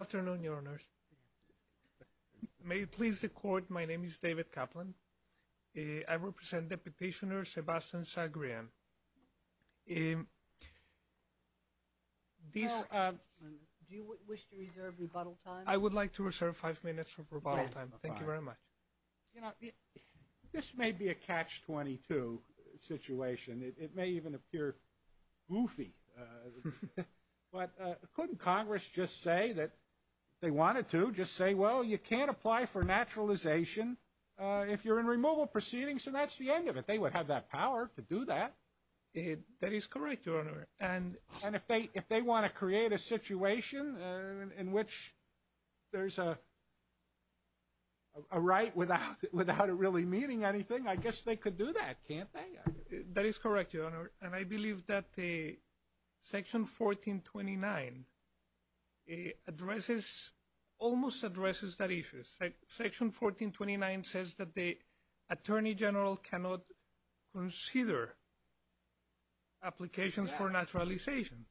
Afternoon, Your Honors. May it please the Court, my name is David Kaplan. I represent Deputationer Sebastian Zegrean. Do you wish to reserve rebuttal time? I would like to reserve five minutes of rebuttal time. Thank you very much. You know, this may be a catch-22 situation. It may even appear goofy. But couldn't Congress just say that they wanted to? Just say, well, you can't apply for naturalization if you're in removal proceedings, and that's the end of it. They would have that power to do that. That is correct, Your Honor. And if they want to create a situation in which there's a right without it really meaning anything, I guess they could do that, can't they? That is correct, Your Honor. And I believe that Section 1429 addresses, almost addresses that issue. Section 1429 says that the Attorney General cannot consider applications for naturalization.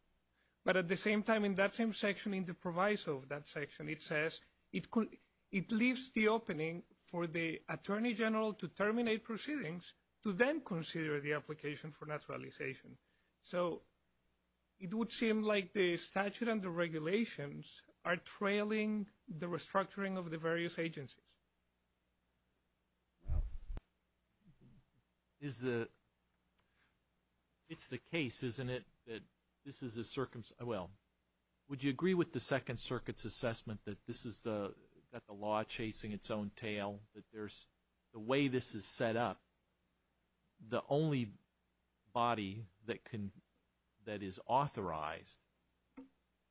But at the same time, in that same section, in the proviso of that section, it says it leaves the opening for the Attorney General to terminate proceedings to then consider the application for naturalization. So it would seem like the statute and the regulations are trailing the restructuring of the various agencies. Is the – it's the case, isn't it, that this is a – well, would you agree with the Second Circuit's assessment that this is the – that the law is chasing its own tail, that there's – the way this is set up, the only body that can – that is authorized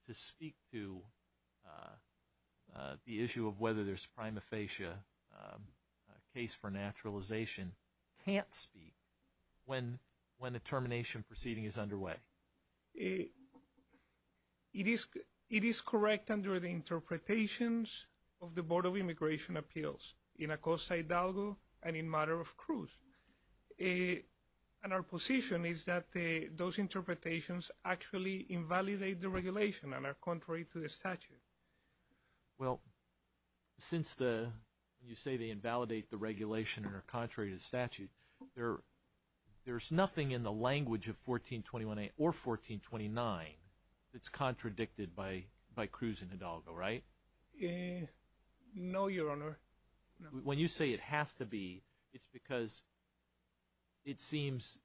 to speak to the issue of whether there's prima facie a case for naturalization can't speak when a termination proceeding is underway? It is correct under the interpretations of the Board of Immigration Appeals, in Acosta-Hidalgo and in Matter of Cruz. And our position is that those interpretations actually invalidate the regulation and are contrary to the statute. Well, since the – you say they invalidate the regulation and are contrary to statute, there's nothing in the language of 1421A or 1429 that's contradicted by Cruz and Hidalgo, right? No, Your Honor. When you say it has to be, it's because it seems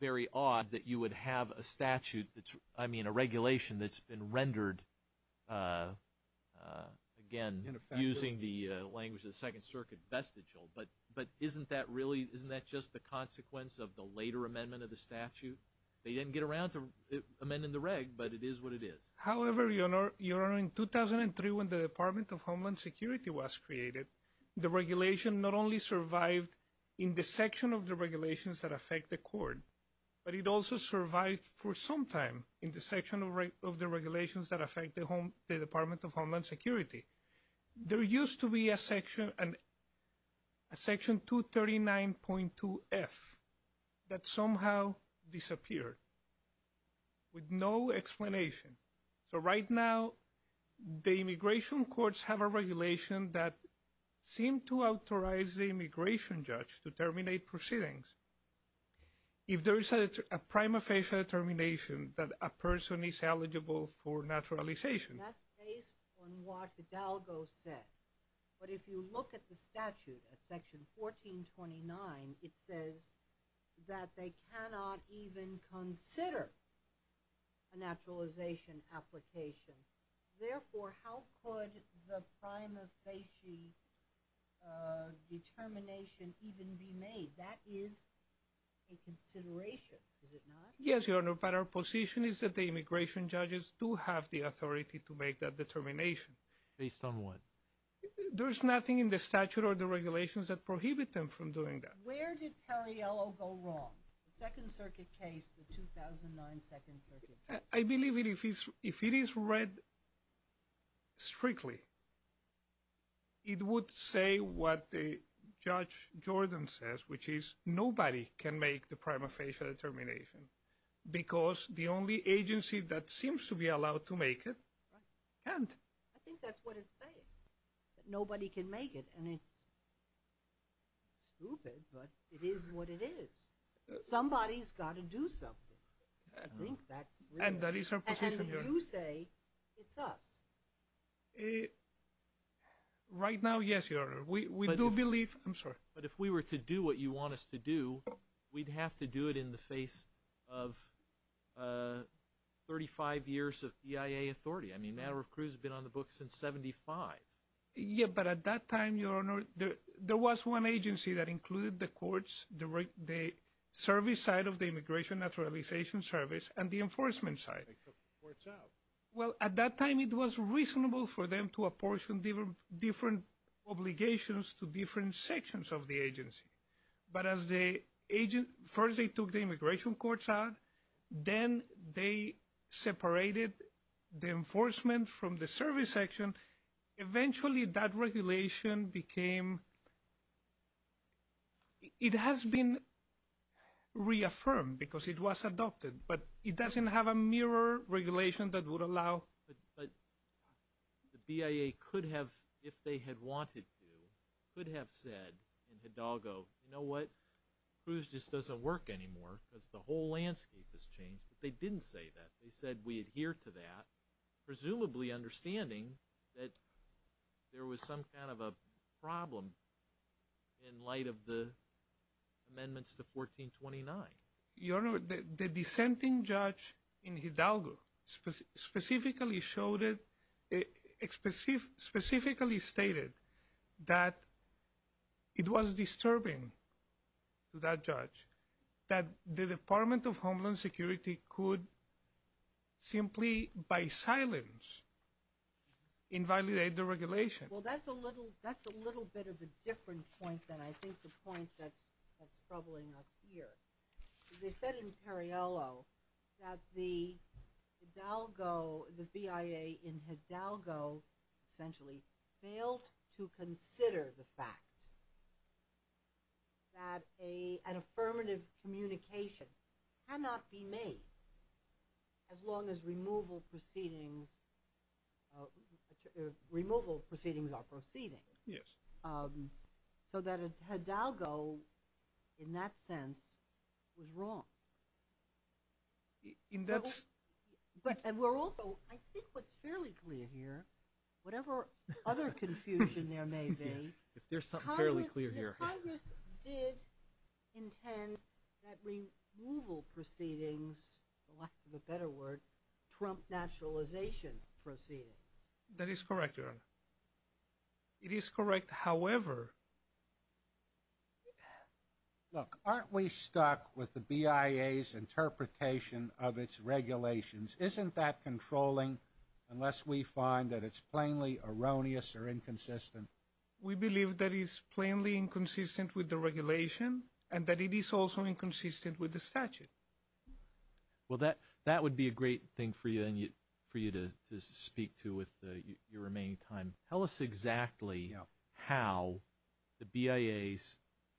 very odd that you would have a statute that's – again, using the language of the Second Circuit, vestigial. But isn't that really – isn't that just the consequence of the later amendment of the statute? They didn't get around to amending the reg, but it is what it is. However, Your Honor, in 2003 when the Department of Homeland Security was created, the regulation not only survived in the section of the regulations that affect the court, but it also survived for some time in the section of the regulations that affect the Department of Homeland Security. There used to be a section, a section 239.2F, that somehow disappeared with no explanation. So right now the immigration courts have a regulation that seems to authorize the immigration judge to terminate proceedings. If there is a prima facie determination that a person is eligible for naturalization – That's based on what Hidalgo said. But if you look at the statute, at section 1429, it says that they cannot even consider a naturalization application. Therefore, how could the prima facie determination even be made? That is a consideration, is it not? Yes, Your Honor, but our position is that the immigration judges do have the authority to make that determination. Based on what? There's nothing in the statute or the regulations that prohibit them from doing that. Where did Cariello go wrong? The Second Circuit case, the 2009 Second Circuit case? I believe if it is read strictly, it would say what Judge Jordan says, which is nobody can make the prima facie determination because the only agency that seems to be allowed to make it can't. I think that's what it's saying, that nobody can make it. And it's stupid, but it is what it is. Somebody's got to do something. I think that's real. And that is our position, Your Honor. And you say it's us. Right now, yes, Your Honor. We do believe – I'm sorry. But if we were to do what you want us to do, we'd have to do it in the face of 35 years of EIA authority. I mean, Maduro Cruz has been on the books since 75. Yeah, but at that time, Your Honor, there was one agency that included the courts, the service side of the Immigration Naturalization Service, and the enforcement side. They took the courts out. Well, at that time, it was reasonable for them to apportion different obligations to different sections of the agency. But as the agent – first, they took the immigration courts out. Then they separated the enforcement from the service section. Eventually, that regulation became – it has been reaffirmed because it was adopted, but it doesn't have a mirror regulation that would allow – the BIA could have, if they had wanted to, could have said in Hidalgo, you know what, Cruz just doesn't work anymore because the whole landscape has changed. But they didn't say that. They said we adhere to that, presumably understanding that there was some kind of a problem in light of the amendments to 1429. Your Honor, the dissenting judge in Hidalgo specifically showed it – specifically stated that it was disturbing to that judge that the Department of Homeland Security could simply, by silence, invalidate the regulation. Well, that's a little bit of a different point than I think the point that's troubling us here. They said in Perriello that the Hidalgo – the BIA in Hidalgo essentially failed to consider the fact that an affirmative communication cannot be made as long as removal proceedings are proceeding. Yes. So that Hidalgo, in that sense, was wrong. And that's – But we're also – I think what's fairly clear here, whatever other confusion there may be – if there's something fairly clear here. Congress did intend that removal proceedings, for lack of a better word, trump naturalization proceedings. That is correct, Your Honor. It is correct, however – Look, aren't we stuck with the BIA's interpretation of its regulations? Isn't that controlling unless we find that it's plainly erroneous or inconsistent? We believe that it's plainly inconsistent with the regulation and that it is also inconsistent with the statute. Well, that would be a great thing for you to speak to with your remaining time. Tell us exactly how the BIA's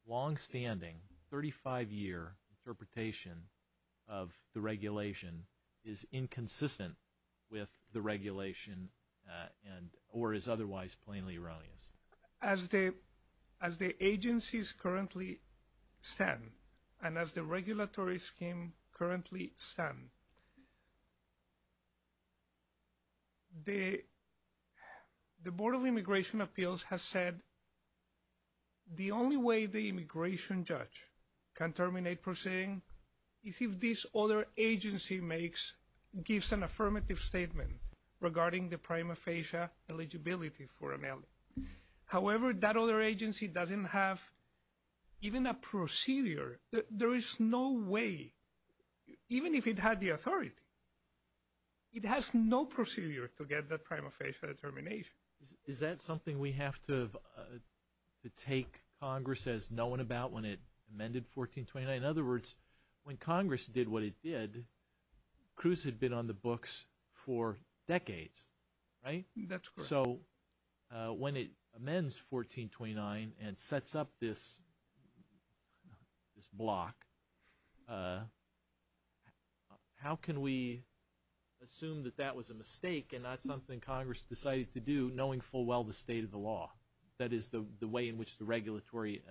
longstanding 35-year interpretation of the regulation is inconsistent with the regulation and – or is otherwise plainly erroneous. As the agencies currently stand and as the regulatory scheme currently stand, the Board of Immigration Appeals has said the only way the immigration judge can terminate proceeding is if this other agency makes – gives an affirmative statement regarding the prima facie eligibility for an L. However, that other agency doesn't have even a procedure. There is no way, even if it had the authority, it has no procedure to get the prima facie determination. Is that something we have to take Congress as knowing about when it amended 1429? In other words, when Congress did what it did, Cruz had been on the books for decades, right? That's correct. So when it amends 1429 and sets up this block, how can we assume that that was a mistake and not something Congress decided to do knowing full well the state of the law? That is the way in which the regulatory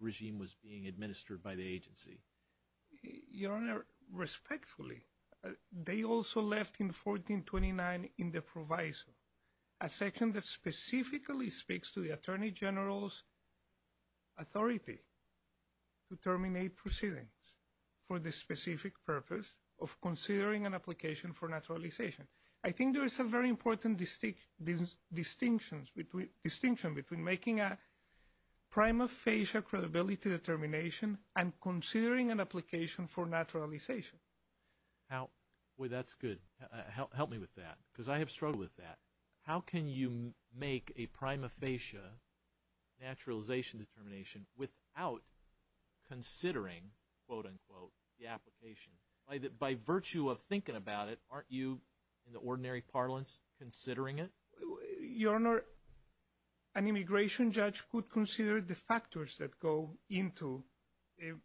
regime was being administered by the agency. Your Honor, respectfully, they also left in 1429 in the proviso a section that specifically speaks to the Attorney General's authority to terminate proceedings for the specific purpose of considering an application for naturalization. I think there is a very important distinction between making a prima facie credibility determination and considering an application for naturalization. Boy, that's good. Help me with that because I have struggled with that. How can you make a prima facie naturalization determination without considering, quote, unquote, the application? By virtue of thinking about it, aren't you, in the ordinary parlance, considering it? Your Honor, an immigration judge could consider the factors that go into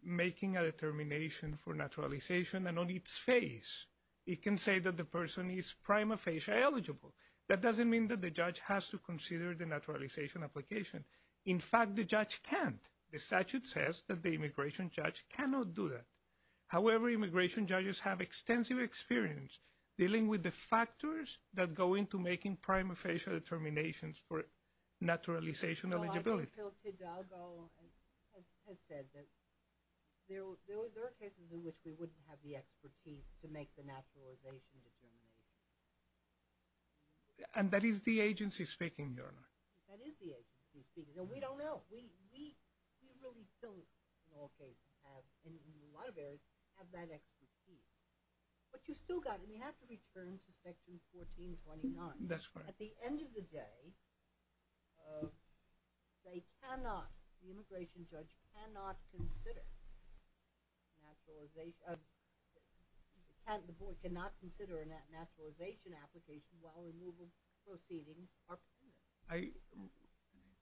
making a determination for naturalization. And on its face, it can say that the person is prima facie eligible. That doesn't mean that the judge has to consider the naturalization application. In fact, the judge can't. The statute says that the immigration judge cannot do that. However, immigration judges have extensive experience dealing with the factors that go into making prima facie determinations for naturalization eligibility. Phil Hidalgo has said that there are cases in which we wouldn't have the expertise to make the naturalization determination. And that is the agency speaking, Your Honor. That is the agency speaking. We don't know. We really don't, in all cases, in a lot of areas, have that expertise. But you still have to return to Section 1429. That's right. At the end of the day, they cannot, the immigration judge cannot consider naturalization. The board cannot consider a naturalization application while removal proceedings are pending.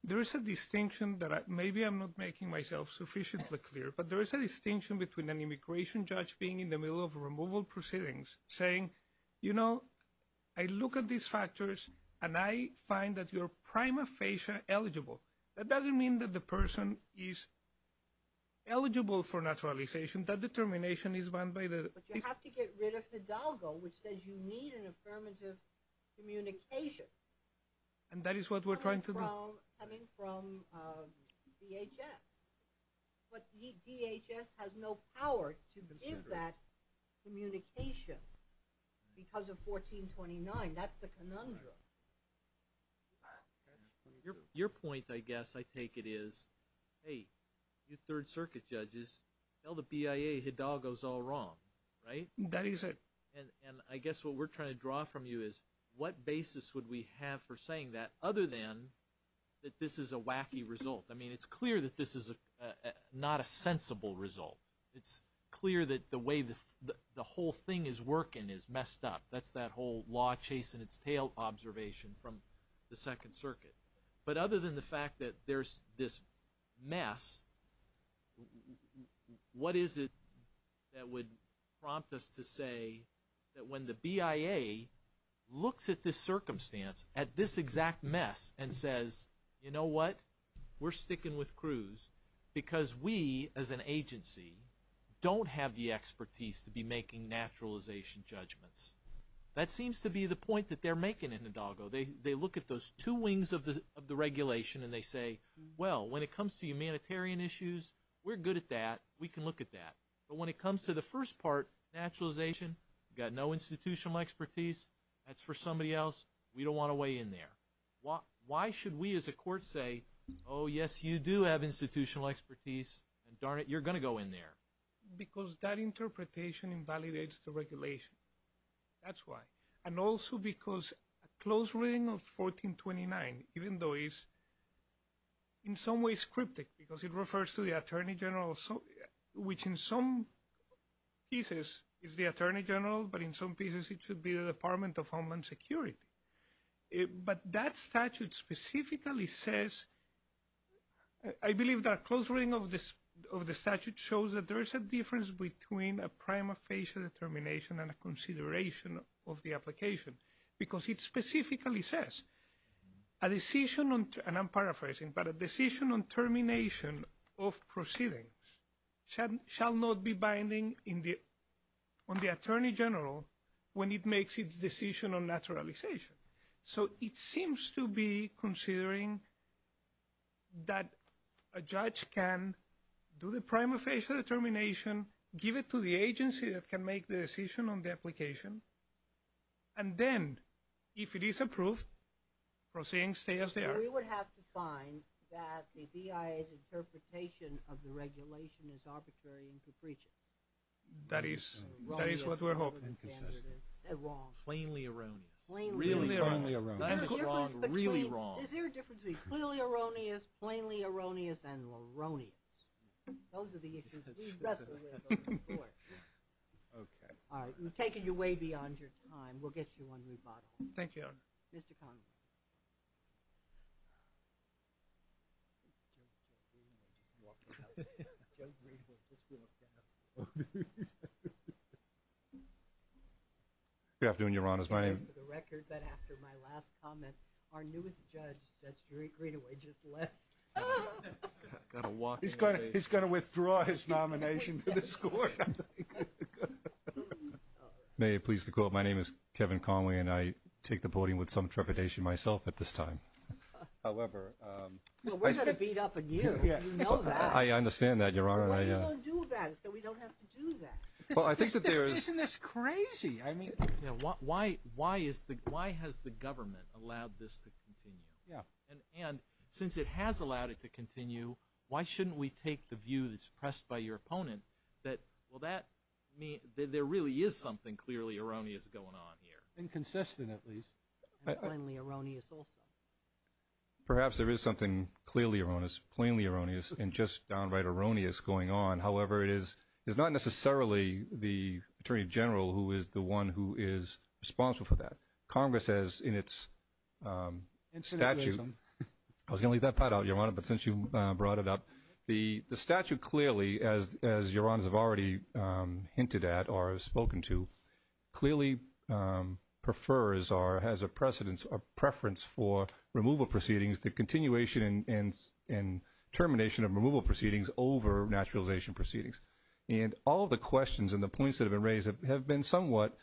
There is a distinction that maybe I'm not making myself sufficiently clear, but there is a distinction between an immigration judge being in the middle of removal proceedings, saying, you know, I look at these factors and I find that you're prima facie eligible. That doesn't mean that the person is eligible for naturalization. That determination is run by the- But you have to get rid of Hidalgo, which says you need an affirmative communication. And that is what we're trying to do. Coming from DHS. But DHS has no power to give that communication because of 1429. That's the conundrum. Your point, I guess, I take it is, hey, you Third Circuit judges, tell the BIA Hidalgo is all wrong, right? That is it. And I guess what we're trying to draw from you is what basis would we have for saying that, other than that this is a wacky result? I mean, it's clear that this is not a sensible result. It's clear that the way the whole thing is working is messed up. That's that whole law-chasing-its-tail observation from the Second Circuit. But other than the fact that there's this mess, what is it that would prompt us to say that when the BIA looks at this circumstance, at this exact mess, and says, you know what? We're sticking with Cruz because we, as an agency, don't have the expertise to be making naturalization judgments. That seems to be the point that they're making in Hidalgo. They look at those two wings of the regulation and they say, well, when it comes to humanitarian issues, we're good at that. We can look at that. But when it comes to the first part, naturalization, got no institutional expertise. That's for somebody else. We don't want to weigh in there. Why should we, as a court, say, oh, yes, you do have institutional expertise, and darn it, you're going to go in there? Because that interpretation invalidates the regulation. That's why. And also because a close reading of 1429, even though it's in some ways cryptic, because it refers to the Attorney General, which in some pieces is the Attorney General, but in some pieces it should be the Department of Homeland Security. But that statute specifically says, I believe that a close reading of the statute shows that there is a difference between a prima facie determination and a consideration of the application. Because it specifically says, a decision on, and I'm paraphrasing, but a decision on termination of proceedings shall not be binding on the Attorney General when it makes its decision on naturalization. So it seems to be considering that a judge can do the prima facie determination, give it to the agency that can make the decision on the application, and then if it is approved, proceedings stay as they are. We would have to find that the BIA's interpretation of the regulation is arbitrary and capricious. That is what we're hoping. Inconsistent. Wrong. Plainly erroneous. Really erroneous. That is wrong. Really wrong. Is there a difference between clearly erroneous, plainly erroneous, and loroneous? Those are the issues we wrestle with on the Court. Okay. All right. We've taken you way beyond your time. We'll get you on rebuttal. Thank you, Your Honor. Mr. Conway. Good afternoon, Your Honors. My name is Kevin Conway. May it please the Court, my name is Kevin Conway and I take the voting with some trepidation myself at this time. However, Well, we're going to beat up on you. You know that. I understand that, Your Honor. Well, you don't do that, so we don't have to do that. Well, I think that there is Isn't this crazy? I mean Why has the government allowed this to continue? Yeah. And since it has allowed it to continue, why shouldn't we take the view that's pressed by your opponent that, well, there really is something clearly erroneous going on here? Inconsistent, at least. And plainly erroneous also. Perhaps there is something clearly erroneous, plainly erroneous, and just downright erroneous going on. However, it is not necessarily the Attorney General who is the one who is responsible for that. Congress has in its statute I was going to leave that part out, Your Honor, but since you brought it up, the statute clearly, as Your Honors have already hinted at or have spoken to, clearly prefers or has a preference for removal proceedings, the continuation and termination of removal proceedings over naturalization proceedings. And all of the questions and the points that have been raised have been somewhat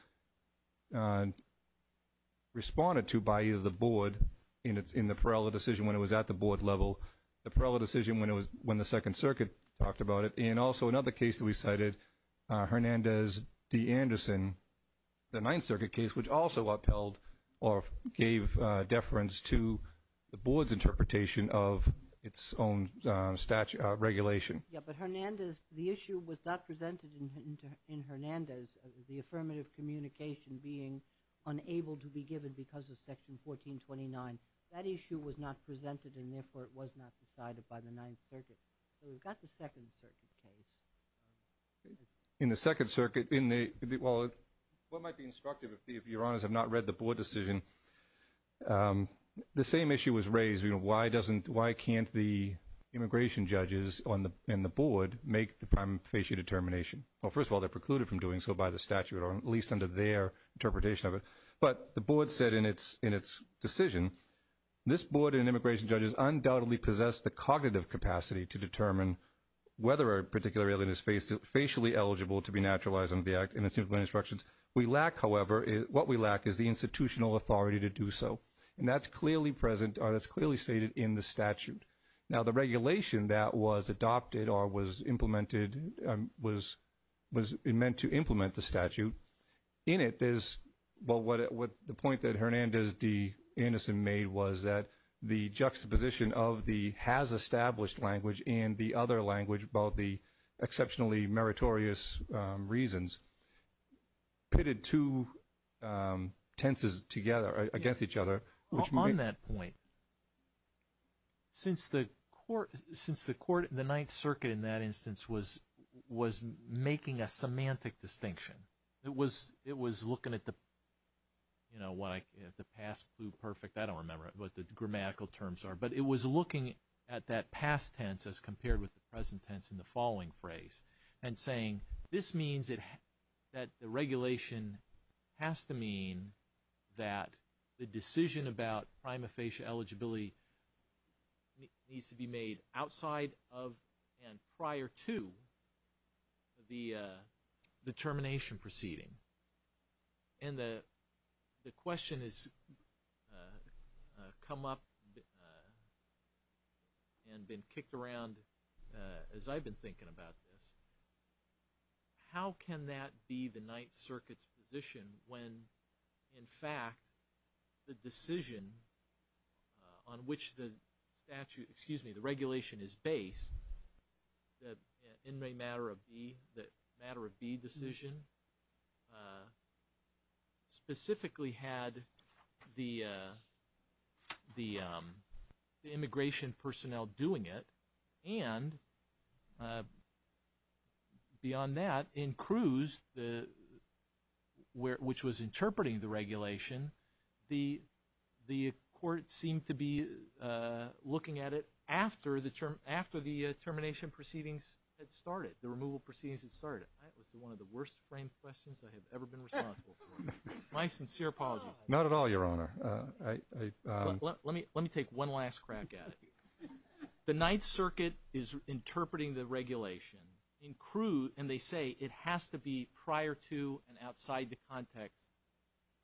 responded to by either the board in the Perella decision when it was at the board level, the Perella decision when the Second Circuit talked about it, and also another case that we cited, Hernandez v. Anderson, the Ninth Circuit case, which also upheld or gave deference to the board's interpretation of its own regulation. Yes, but Hernandez, the issue was not presented in Hernandez, the affirmative communication being unable to be given because of Section 1429. That issue was not presented and, therefore, it was not decided by the Ninth Circuit. We've got the Second Circuit case. In the Second Circuit, what might be instructive if Your Honors have not read the board decision, the same issue was raised, why can't the immigration judges and the board make the prima facie determination? Well, first of all, they're precluded from doing so by the statute or at least under their interpretation of it. But the board said in its decision, this board and immigration judges undoubtedly possess the cognitive capacity to determine whether a particular alien is facially eligible to be naturalized under the Act and its instructions. We lack, however, what we lack is the institutional authority to do so. And that's clearly stated in the statute. Now, the regulation that was adopted or was implemented was meant to implement the statute. In it, the point that Hernandez D. Anderson made was that the juxtaposition of the has established language and the other language about the exceptionally meritorious reasons pitted two tenses together against each other. On that point, since the Ninth Circuit in that instance was making a semantic distinction, it was looking at the past pluperfect, I don't remember what the grammatical terms are, but it was looking at that past tense as compared with the present tense in the following phrase and saying this means that the regulation has to mean that the decision about prima facie eligibility needs to be made outside of and prior to the termination proceeding. And the question has come up and been kicked around as I've been thinking about this. How can that be the Ninth Circuit's position when, in fact, the decision on which the regulation is based, the inmate matter of B decision, specifically had the immigration personnel doing it and beyond that in Cruz, which was interpreting the regulation, the court seemed to be looking at it after the termination proceedings had started, the removal proceedings had started. That was one of the worst framed questions I have ever been responsible for. My sincere apologies. Not at all, Your Honor. Let me take one last crack at it. The Ninth Circuit is interpreting the regulation in Cruz, and they say it has to be prior to and outside the context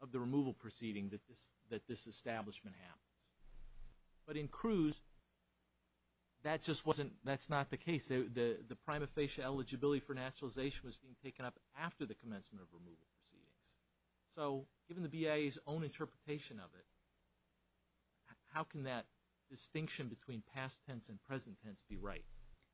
of the removal proceeding that this establishment happens. But in Cruz, that's not the case. The prima facie eligibility for naturalization was being taken up after the commencement of removal proceedings. So given the BIA's own interpretation of it, how can that distinction between past tense and present tense be right?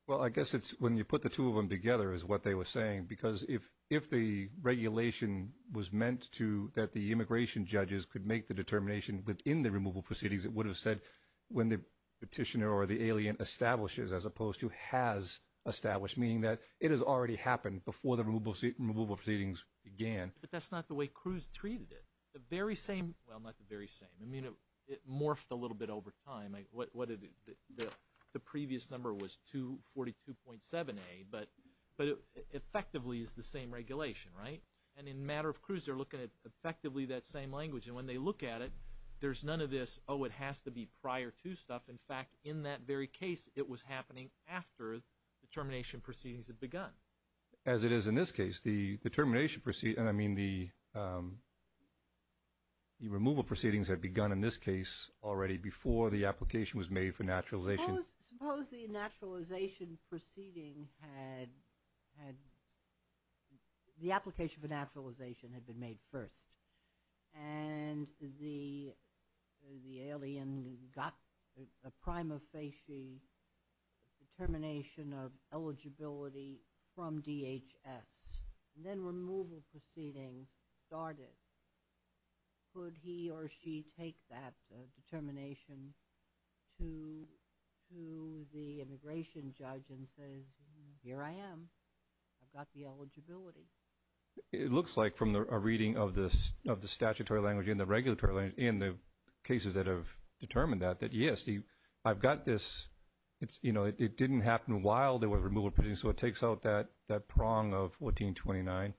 Well, I guess it's when you put the two of them together is what they were saying, because if the regulation was meant to that the immigration judges could make the determination within the removal proceedings, it would have said when the petitioner or the alien establishes as opposed to has established, meaning that it has already happened before the removal proceedings began. But that's not the way Cruz treated it. The very same ‑‑ well, not the very same. I mean, it morphed a little bit over time. The previous number was 242.7A, but effectively it's the same regulation, right? And in matter of Cruz, they're looking at effectively that same language. And when they look at it, there's none of this, oh, it has to be prior to stuff. In fact, in that very case, it was happening after the termination proceedings had begun. As it is in this case. I mean, the removal proceedings had begun in this case already before the application was made for naturalization. Suppose the naturalization proceeding had ‑‑ the application for naturalization had been made first, and the alien got a prima facie determination of eligibility from DHS, and then removal proceedings started. Could he or she take that determination to the immigration judge and say, here I am. I've got the eligibility. It looks like from a reading of the statutory language and the regulatory language and the cases that have determined that, that, yes, I've got this. It didn't happen while there were removal proceedings, so it takes out that prong of 1429.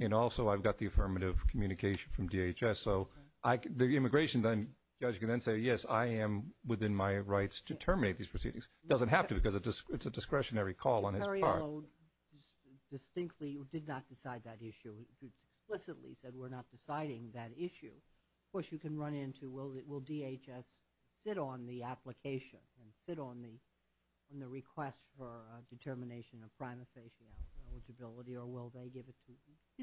And also I've got the affirmative communication from DHS. So the immigration judge can then say, yes, I am within my rights to terminate these proceedings. It doesn't have to because it's a discretionary call on his part. Although distinctly you did not decide that issue. You explicitly said we're not deciding that issue. Of course, you can run into will DHS sit on the application and sit on the request for determination of prima facie eligibility, or will they give it to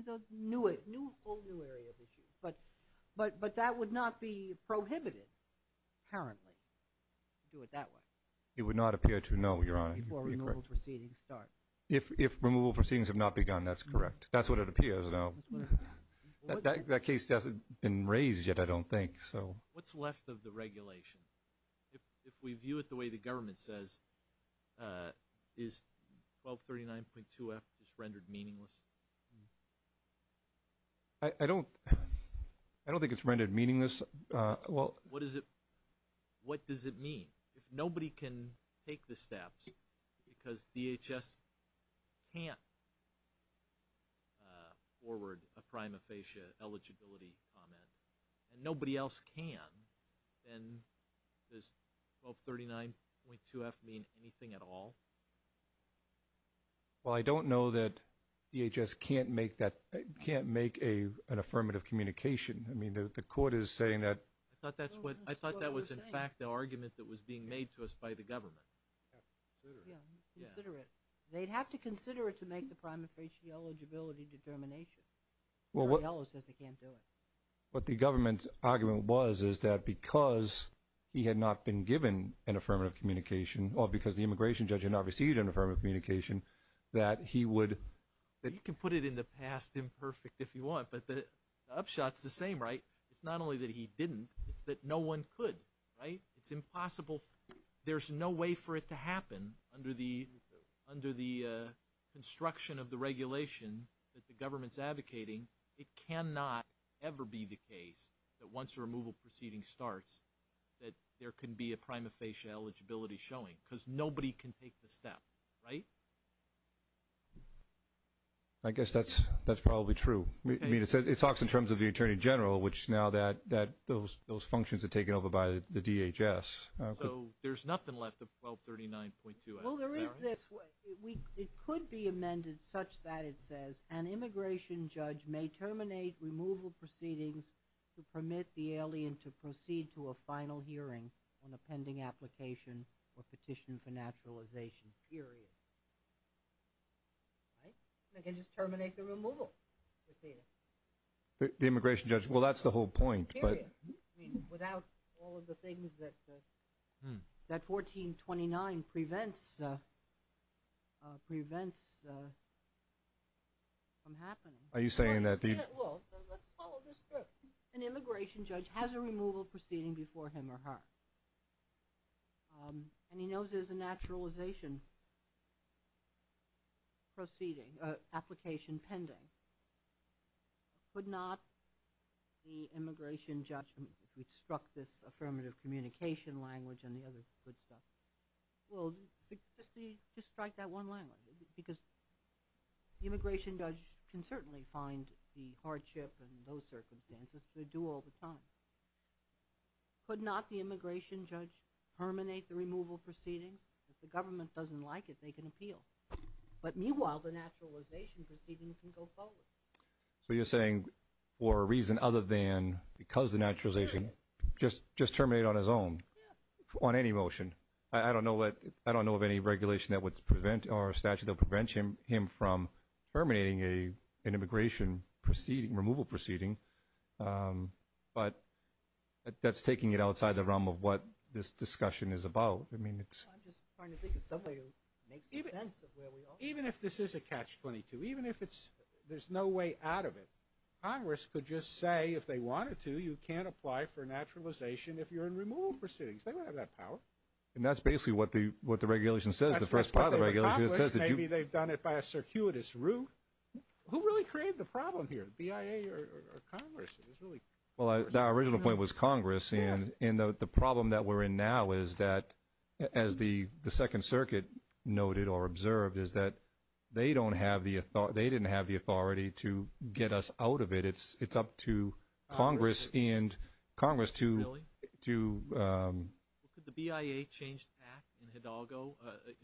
you? New area of issue. But that would not be prohibited, apparently, to do it that way. It would not appear to, no, Your Honor. Before removal proceedings start. If removal proceedings have not begun, that's correct. That's what it appears, though. That case hasn't been raised yet, I don't think. What's left of the regulation? If we view it the way the government says, is 1239.2F just rendered meaningless? I don't think it's rendered meaningless. What does it mean? If nobody can take the steps because DHS can't forward a prima facie eligibility comment and nobody else can, then does 1239.2F mean anything at all? Well, I don't know that DHS can't make an affirmative communication. I mean, the court is saying that. I thought that was, in fact, the argument that was being made to us by the government. Consider it. They'd have to consider it to make the prima facie eligibility determination. Barry Yellow says they can't do it. What the government's argument was is that because he had not been given an affirmative communication or because the immigration judge had not received an affirmative communication, that he would – You can put it in the past imperfect if you want, but the upshot is the same, right? It's not only that he didn't. It's that no one could, right? It's impossible. There's no way for it to happen under the construction of the regulation that the government's advocating. It cannot ever be the case that once a removal proceeding starts that there can be a prima facie eligibility showing because nobody can take the step, right? I guess that's probably true. I mean, it talks in terms of the attorney general, which now that those functions are taken over by the DHS. So there's nothing left of 1239.2. Well, there is this. It could be amended such that it says an immigration judge may terminate removal proceedings to permit the alien to proceed to a final hearing on a pending application or petition for naturalization, period. Right? They can just terminate the removal proceeding. The immigration judge. Well, that's the whole point, but – Period. I mean, without all of the things that 1429 prevents from happening. Are you saying that the – Well, let's follow this through. An immigration judge has a removal proceeding before him or her, and he knows there's a naturalization proceeding, application pending. Could not the immigration judge – if we struck this affirmative communication language and the other good stuff. Well, just strike that one language because the immigration judge can certainly find the hardship and those circumstances. They do all the time. Could not the immigration judge terminate the removal proceedings? If the government doesn't like it, they can appeal. But meanwhile, the naturalization proceeding can go forward. So you're saying for a reason other than because the naturalization, just terminate on his own? Yeah. On any motion? I don't know of any regulation that would prevent or statute that would prevent him from terminating an immigration removal proceeding, but that's taking it outside the realm of what this discussion is about. I mean, it's – I'm just trying to think of something that makes sense of where we are. Even if this is a catch-22, even if it's – there's no way out of it, Congress could just say if they wanted to, you can't apply for naturalization if you're in removal proceedings. They don't have that power. And that's basically what the regulation says, the first part of the regulation. Maybe they've done it by a circuitous route. Who really created the problem here, the BIA or Congress? Well, our original point was Congress. And the problem that we're in now is that, as the Second Circuit noted or observed, is that they don't have the – they didn't have the authority to get us out of it. It's up to Congress and Congress to – Really? To –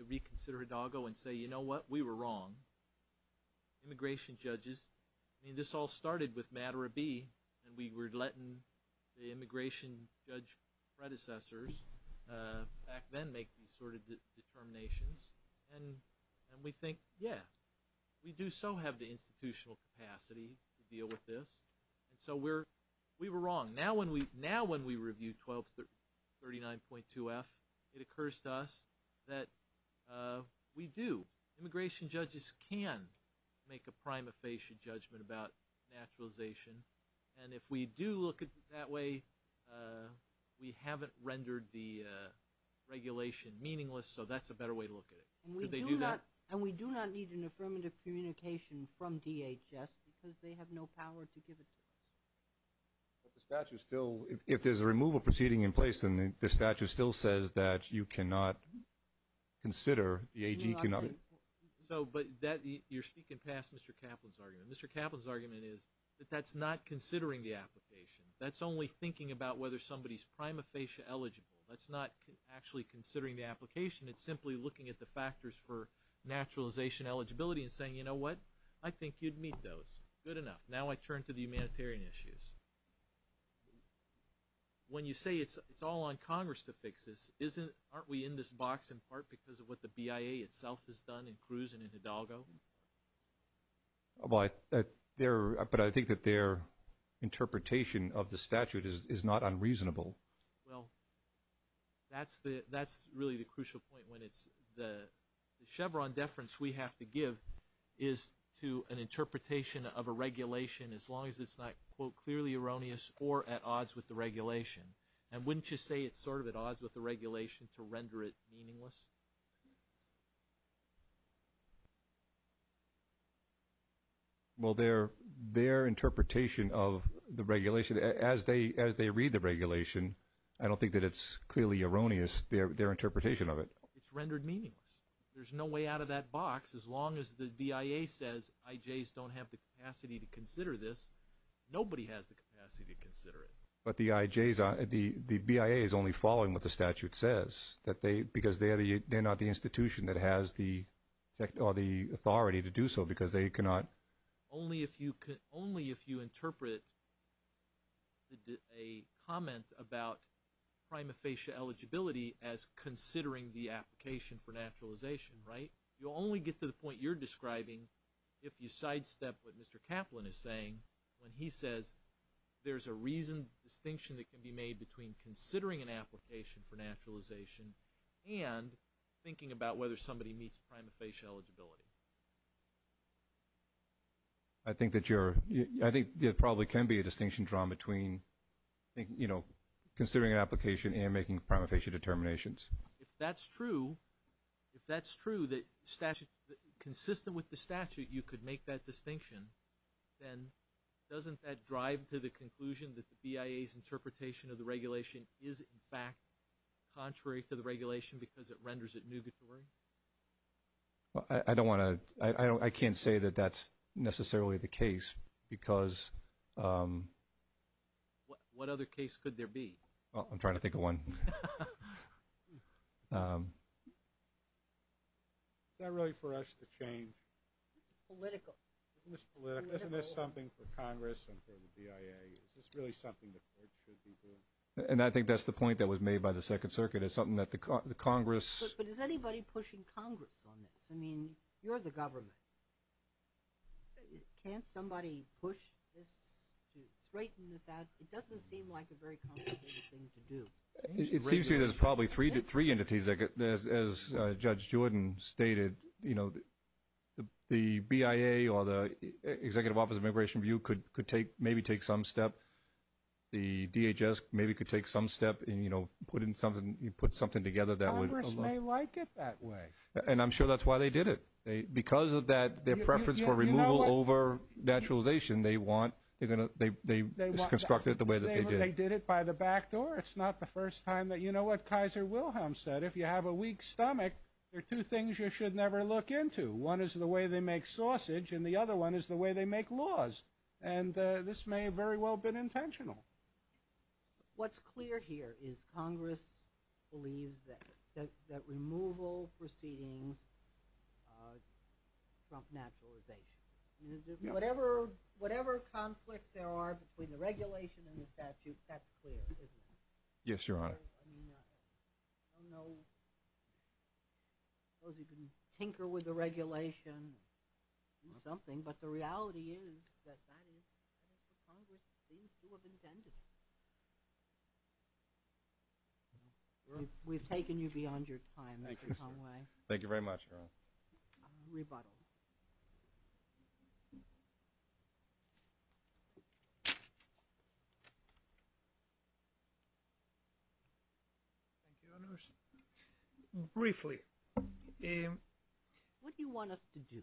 reconsider Hidalgo and say, you know what, we were wrong. Immigration judges – I mean, this all started with matter of B, and we were letting the immigration judge predecessors back then make these sort of determinations. And we think, yeah, we do so have the institutional capacity to deal with this. And so we were wrong. Now when we review 1239.2F, it occurs to us that we do. Immigration judges can make a prima facie judgment about naturalization. And if we do look at it that way, we haven't rendered the regulation meaningless, so that's a better way to look at it. Could they do that? And we do not need an affirmative communication from DHS because they have no power to give it to us. But the statute still – if there's a removal proceeding in place, then the statute still says that you cannot consider the AG – So, but that – you're speaking past Mr. Kaplan's argument. Mr. Kaplan's argument is that that's not considering the application. That's only thinking about whether somebody's prima facie eligible. That's not actually considering the application. It's simply looking at the factors for naturalization eligibility and saying, you know what, I think you'd meet those. Good enough. Now I turn to the humanitarian issues. When you say it's all on Congress to fix this, aren't we in this box in part because of what the BIA itself has done in Cruz and in Hidalgo? But I think that their interpretation of the statute is not unreasonable. Well, that's really the crucial point when it's – the Chevron deference we have to give is to an interpretation of a regulation as long as it's not, quote, clearly erroneous or at odds with the regulation. And wouldn't you say it's sort of at odds with the regulation to render it meaningless? Well, their interpretation of the regulation, as they read the regulation, I don't think that it's clearly erroneous, their interpretation of it. It's rendered meaningless. There's no way out of that box as long as the BIA says IJs don't have the capacity to consider this. Nobody has the capacity to consider it. But the IJs are – the BIA is only following what the statute says because they're not the institution that has the authority to do so because they cannot. Only if you interpret a comment about prima facie eligibility as considering the application for naturalization, right? You'll only get to the point you're describing if you sidestep what Mr. Kaplan is saying when he says there's a reasoned distinction that can be made between considering an application for naturalization and thinking about whether somebody meets prima facie eligibility. I think that you're – I think there probably can be a distinction drawn between, you know, considering an application and making prima facie determinations. If that's true, if that's true that statute – consistent with the statute, you could make that distinction, then doesn't that drive to the conclusion that the BIA's interpretation of the regulation is, in fact, contrary to the regulation because it renders it nugatory? I don't want to – I can't say that that's necessarily the case because – What other case could there be? I'm trying to think of one. Is that really for us to change? It's political. Isn't this political? Isn't this something for Congress and for the BIA? Is this really something the court should be doing? And I think that's the point that was made by the Second Circuit. It's something that the Congress – But is anybody pushing Congress on this? I mean, you're the government. Can't somebody push this to straighten this out? It doesn't seem like a very complicated thing to do. It seems to me there's probably three entities that – as Judge Jordan stated, you know, the BIA or the Executive Office of Immigration Review could maybe take some step. The DHS maybe could take some step and, you know, put something together that would – Congress may like it that way. And I'm sure that's why they did it. Because of that, their preference for removal over naturalization, they want – they constructed it the way that they did. They did it by the back door. It's not the first time that – you know what Kaiser Wilhelm said. If you have a weak stomach, there are two things you should never look into. One is the way they make sausage, and the other one is the way they make laws. And this may very well have been intentional. What's clear here is Congress believes that removal proceedings trump naturalization. Whatever conflicts there are between the regulation and the statute, that's clear, isn't it? Yes, Your Honor. I mean, I don't know. I suppose you can tinker with the regulation, do something. But the reality is that that is what Congress seems to have intended. We've taken you beyond your time, Mr. Conway. Thank you very much, Your Honor. Rebuttal. Briefly. What do you want us to do?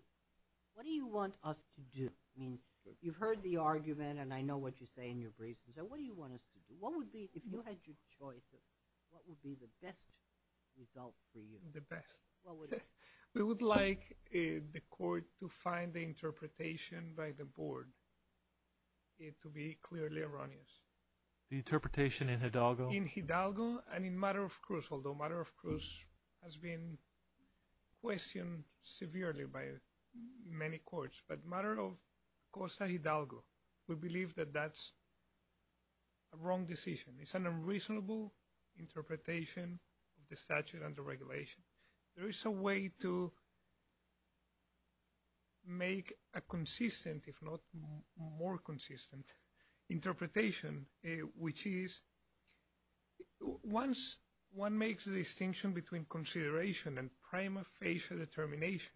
What do you want us to do? I mean, you've heard the argument, and I know what you say in your brief. So what do you want us to do? What would be – if you had your choice, what would be the best result for you? The best. We would like the Court to find the interpretation by the Board to be clearly erroneous. The interpretation in Hidalgo? In Hidalgo and in Matter of Cruz, although Matter of Cruz has been questioned severely by many courts. But Matter of Costa Hidalgo, we believe that that's a wrong decision. It's an unreasonable interpretation of the statute and the regulation. There is a way to make a consistent, if not more consistent, interpretation, which is once one makes a distinction between consideration and prima facie determination,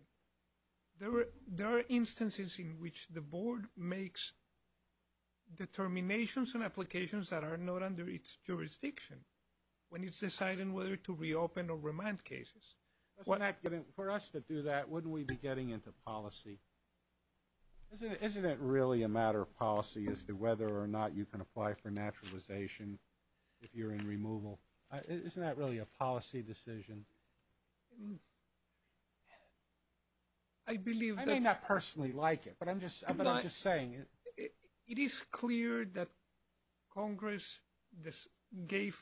there are instances in which the Board makes determinations and applications that are not under its jurisdiction when it's deciding whether to reopen or remand cases. For us to do that, wouldn't we be getting into policy? Isn't it really a matter of policy as to whether or not you can apply for naturalization if you're in removal? Isn't that really a policy decision? I believe that— I may not personally like it, but I'm just saying. It is clear that Congress gave—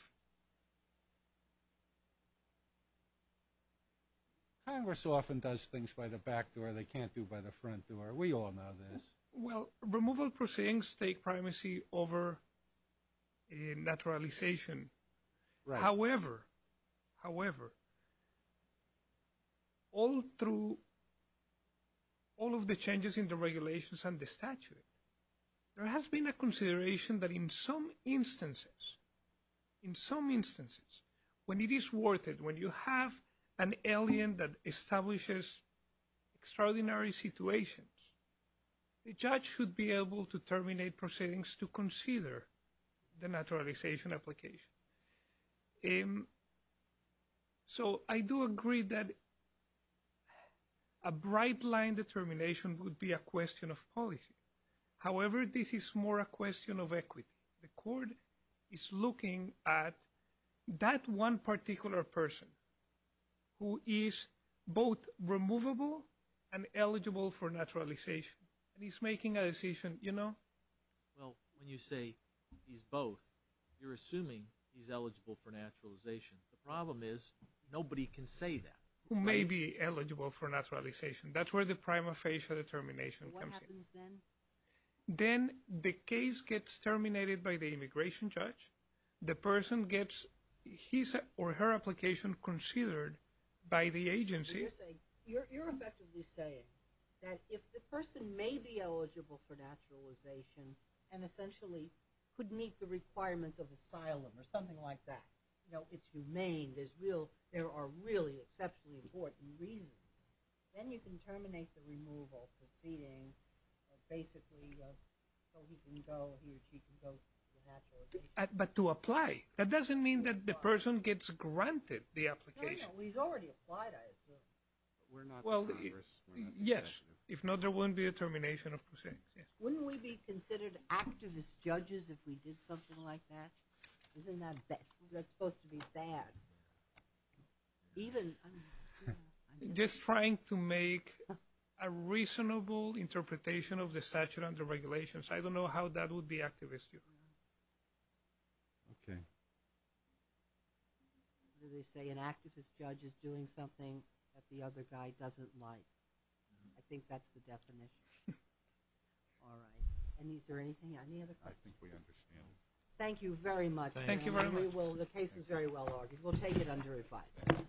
Congress often does things by the back door. They can't do it by the front door. We all know this. Well, removal proceedings take primacy over naturalization. However, all through all of the changes in the regulations and the statute, there has been a consideration that in some instances, when it is worth it, when you have an alien that establishes extraordinary situations, the judge should be able to terminate proceedings to consider the naturalization application. So I do agree that a bright-line determination would be a question of policy. However, this is more a question of equity. The court is looking at that one particular person who is both removable and eligible for naturalization, and he's making a decision, you know? Well, when you say he's both, you're assuming he's eligible for naturalization. The problem is nobody can say that. Who may be eligible for naturalization. That's where the prima facie determination comes in. What happens then? Then the case gets terminated by the immigration judge. The person gets his or her application considered by the agency. You're effectively saying that if the person may be eligible for naturalization and essentially could meet the requirements of asylum or something like that, you know, it's humane, there are really exceptionally important reasons, then you can terminate the removal proceeding basically so he or she can go to naturalization. But to apply. That doesn't mean that the person gets granted the application. He's already applied, I assume. Well, yes. If not, there wouldn't be a termination of proceedings. Wouldn't we be considered activist judges if we did something like that? Isn't that supposed to be bad? Even – Just trying to make a reasonable interpretation of the statute and the regulations. I don't know how that would be activist. Okay. They say an activist judge is doing something that the other guy doesn't like. I think that's the definition. All right. Is there anything, any other questions? I think we understand. Thank you very much. Thank you very much. The case is very well argued. We'll take it under revised.